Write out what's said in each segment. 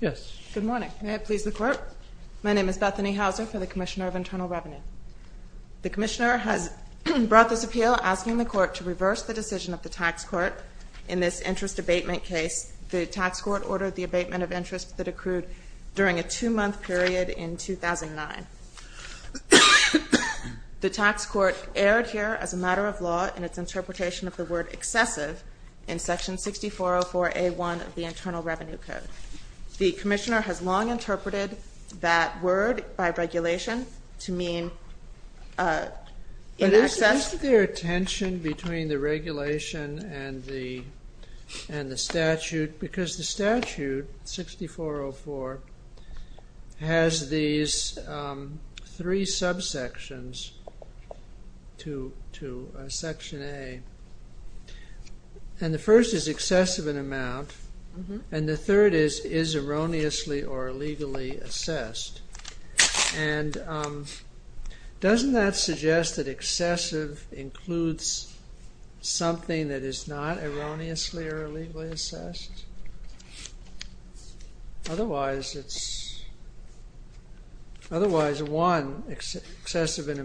Yes. Good morning. May it please the Court? My name is Bethany Hauser for the Commissioner of Internal Revenue. The Commissioner has brought this appeal asking the Court to reverse the decision of the Tax Court in this interest abatement case. The Tax Court ordered the abatement of interest that accrued during a two-month period in 2009. The Tax Court erred here as a matter of law in its interpretation of the word The Commissioner has long interpreted that word by regulation to mean in excess... But is there a tension between the regulation and the statute? Because the statute, 6404, has these three subsections to Section A. And the first is excessive in amount. And the third is, is erroneously or illegally assessed. And doesn't that suggest that excessive includes something that is not erroneously or illegally assessed? Otherwise it's... Well, the Commissioner interprets excessive in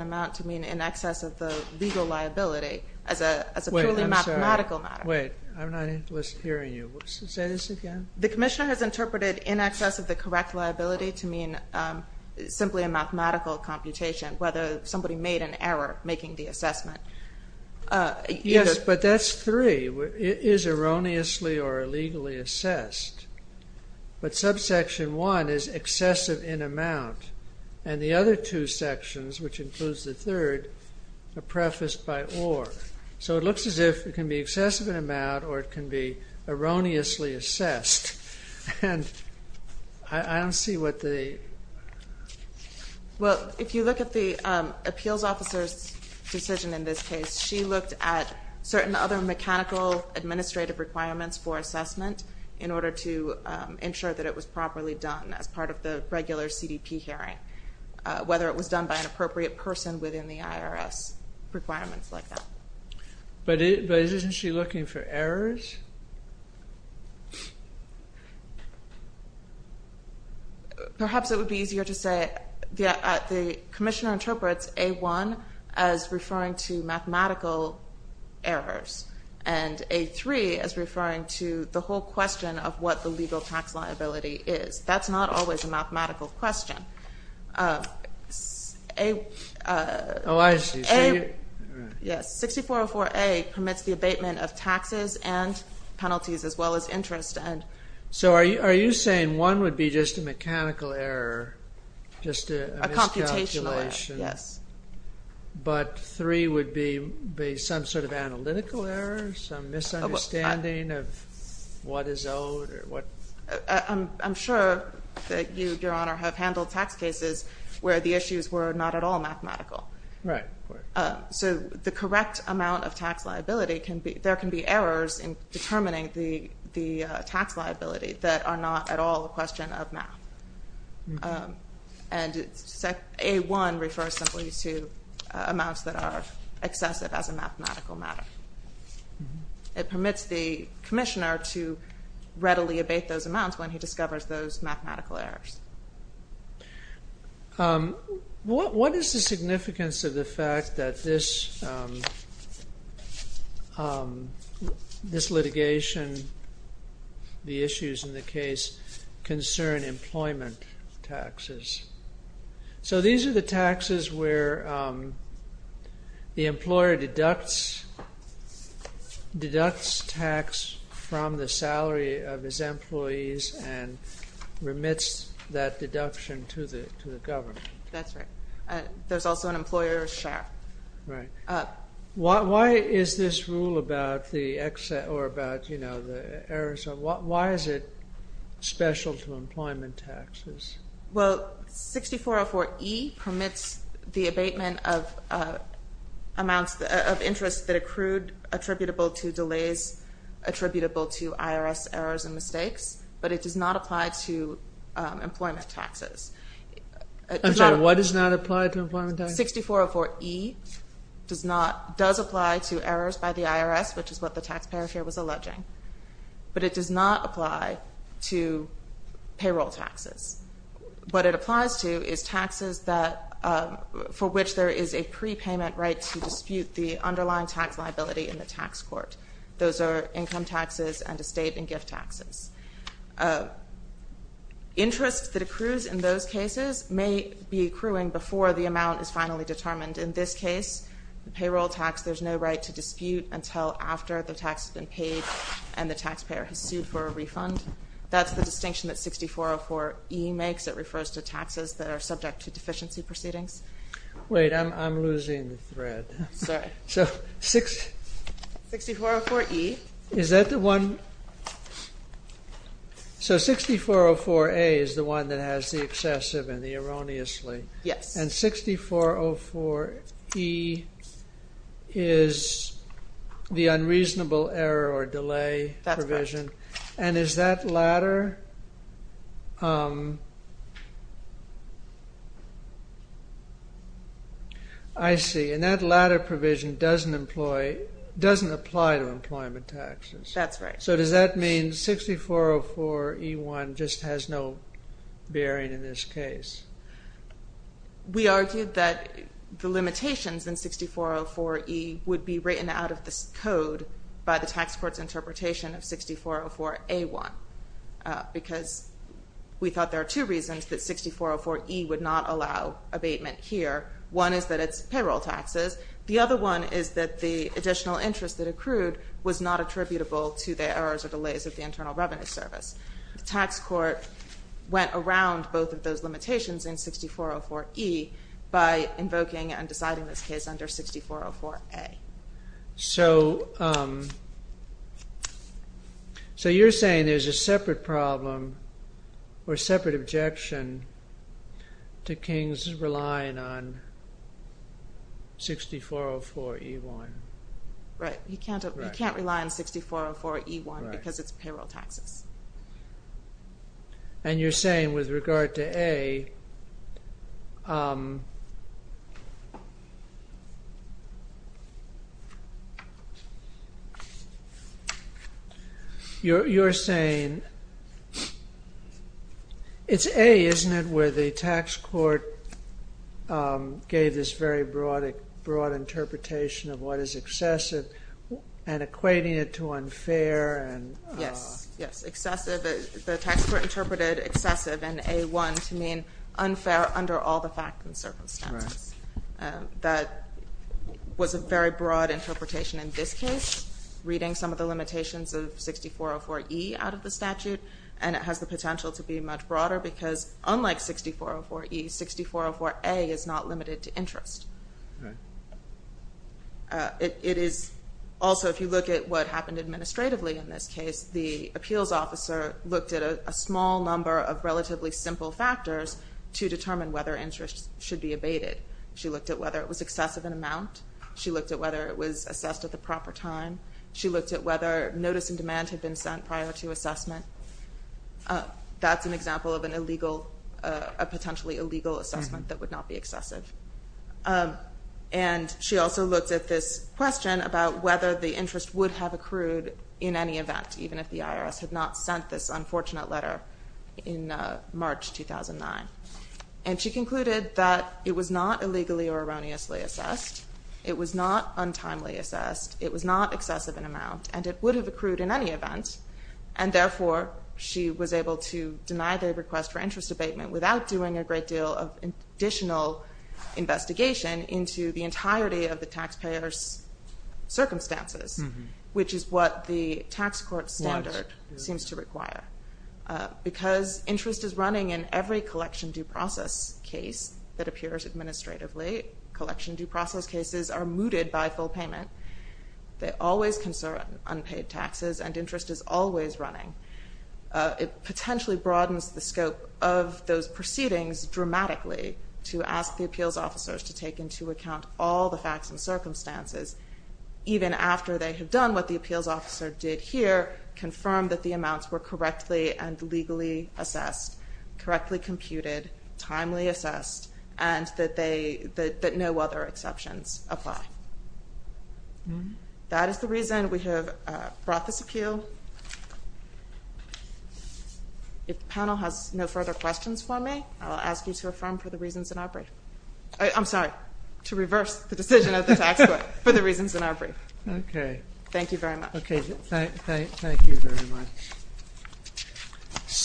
amount to mean in excess of the legal liability as a purely mathematical matter. Wait, I'm not hearing you. Say this again. The Commissioner has interpreted in excess of the correct liability to mean simply a mathematical computation, whether somebody made an error making the assessment. Yes, but that's three. It is erroneously or illegally assessed. But subsection one is excessive in amount. And the other two sections, which includes the third, are prefaced by or. So it looks as if it can be excessive in amount or it can be erroneously assessed. And I don't see what the... Well, if you look at the appeals officer's decision in this case, she looked at certain other mechanical administrative requirements for assessment in order to ensure that it was properly done as part of the regular CDP hearing, whether it was done by an appropriate person within the IRS, requirements like that. But isn't she looking for errors? Perhaps it would be easier to say... The Commissioner interprets A1 as referring to mathematical errors and A3 as referring to the whole question of what the legal tax liability is. That's not always a mathematical question. Oh, I see. 6404A permits the abatement of taxes and penalties as well as interest. So are you saying one would be just a mechanical error, just a miscalculation, but three would be some sort of analytical error, some misunderstanding of what is owed? I'm sure that you, Your Honor, have handled tax cases where the issues were not at all mathematical. So the correct amount of tax liability, there can be errors in determining the tax liability that are not at all a question of math. And A1 refers simply to amounts that are excessive as a mathematical matter. It permits the Commissioner to readily abate those amounts when he discovers those mathematical errors. What is the significance of the fact that this litigation, the issues in the case, concern employment taxes? So these are the taxes where the employer deducts tax from the salary of his employees and remits that deduction to the government. That's right. There's also an employer's share. Right. Why is this rule about the excess or about the errors? Why is it special to employment taxes? Well, 6404E permits the abatement of amounts of interest that accrued attributable to delays, attributable to IRS errors and mistakes, but it does not apply to employment taxes. I'm sorry, what does not apply to employment taxes? 6404E does apply to errors by the IRS, which is what the taxpayer share was alleging, but it does not apply to payroll taxes. What it applies to is taxes for which there is a prepayment right to dispute the underlying tax liability in the tax court. Those are income taxes and estate and gift taxes. Interest that accrues in those cases may be accruing before the amount is finally determined. In this case, the payroll tax, there's no right to dispute until after the tax has been paid and the taxpayer has sued for a refund. That's the distinction that 6404E makes. It refers to taxes that are subject to deficiency proceedings. Wait, I'm losing the thread. Sorry. So 6404E. Is that the one? So 6404A is the one that has the excessive and the erroneously. Yes. And 6404E is the unreasonable error or delay provision. And is that latter I see. And that latter provision doesn't apply to employment taxes. That's right. So does that mean 6404E1 just has no bearing in this case? We argued that the limitations in 6404E would be written out of this code by the tax court's interpretation of 6404A1 because we thought there are two reasons that 6404E would not allow abatement here. One is that it's payroll taxes. The other one is that the additional interest that accrued was not attributable to the errors or delays of the Internal Revenue Service. The tax court went around both of those limitations in 6404E by invoking and deciding this case under 6404A. So you're saying there's a separate problem or separate objection to King's relying on 6404E1. Right. You can't rely on 6404E1 because it's payroll taxes. And you're saying with regard to A it's A, isn't it, where the tax court gave this very broad interpretation of what is excessive and equating it to unfair. Yes, yes. Excessive, the tax court interpreted excessive in A1 to mean unfair under all the facts and circumstances. That was a very broad interpretation in this case, reading some of the limitations of 6404E out of the statute and it has the potential to be much broader because unlike 6404E, 6404A is not limited to interest. Also, if you look at what happened administratively in this case, the appeals officer looked at a small number of relatively simple factors to determine whether interest should be abated. She looked at whether it was excessive in amount. She looked at whether it was that's an example of a potentially illegal assessment that would not be excessive. And she also looked at this question about whether the interest would have accrued in any event, even if the IRS had not sent this unfortunate letter in March 2009. And she concluded that it was not illegally or erroneously assessed. It was not untimely assessed. It was not excessive in amount and it would have accrued in any event and therefore she was able to deny the request for interest abatement without doing a great deal of additional investigation into the entirety of the taxpayer's circumstances, which is what the tax court standard seems to require. Because interest is running in every collection due process case that always concern unpaid taxes and interest is always running. It potentially broadens the scope of those proceedings dramatically to ask the appeals officers to take into account all the facts and circumstances, even after they have done what the appeals officer did here, confirmed that the amounts were correctly and legally assessed, correctly computed, timely assessed, and that no other exceptions apply. That is the reason we have brought this appeal. If the panel has no further questions for me, I will ask you to affirm for the reasons in our brief. I'm sorry, to reverse the decision of the tax court for the reasons in our brief. Thank you very much. Okay, thank you very much.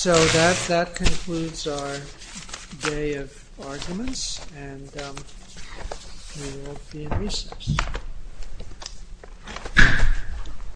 That concludes our day of arguments. We will be in recess.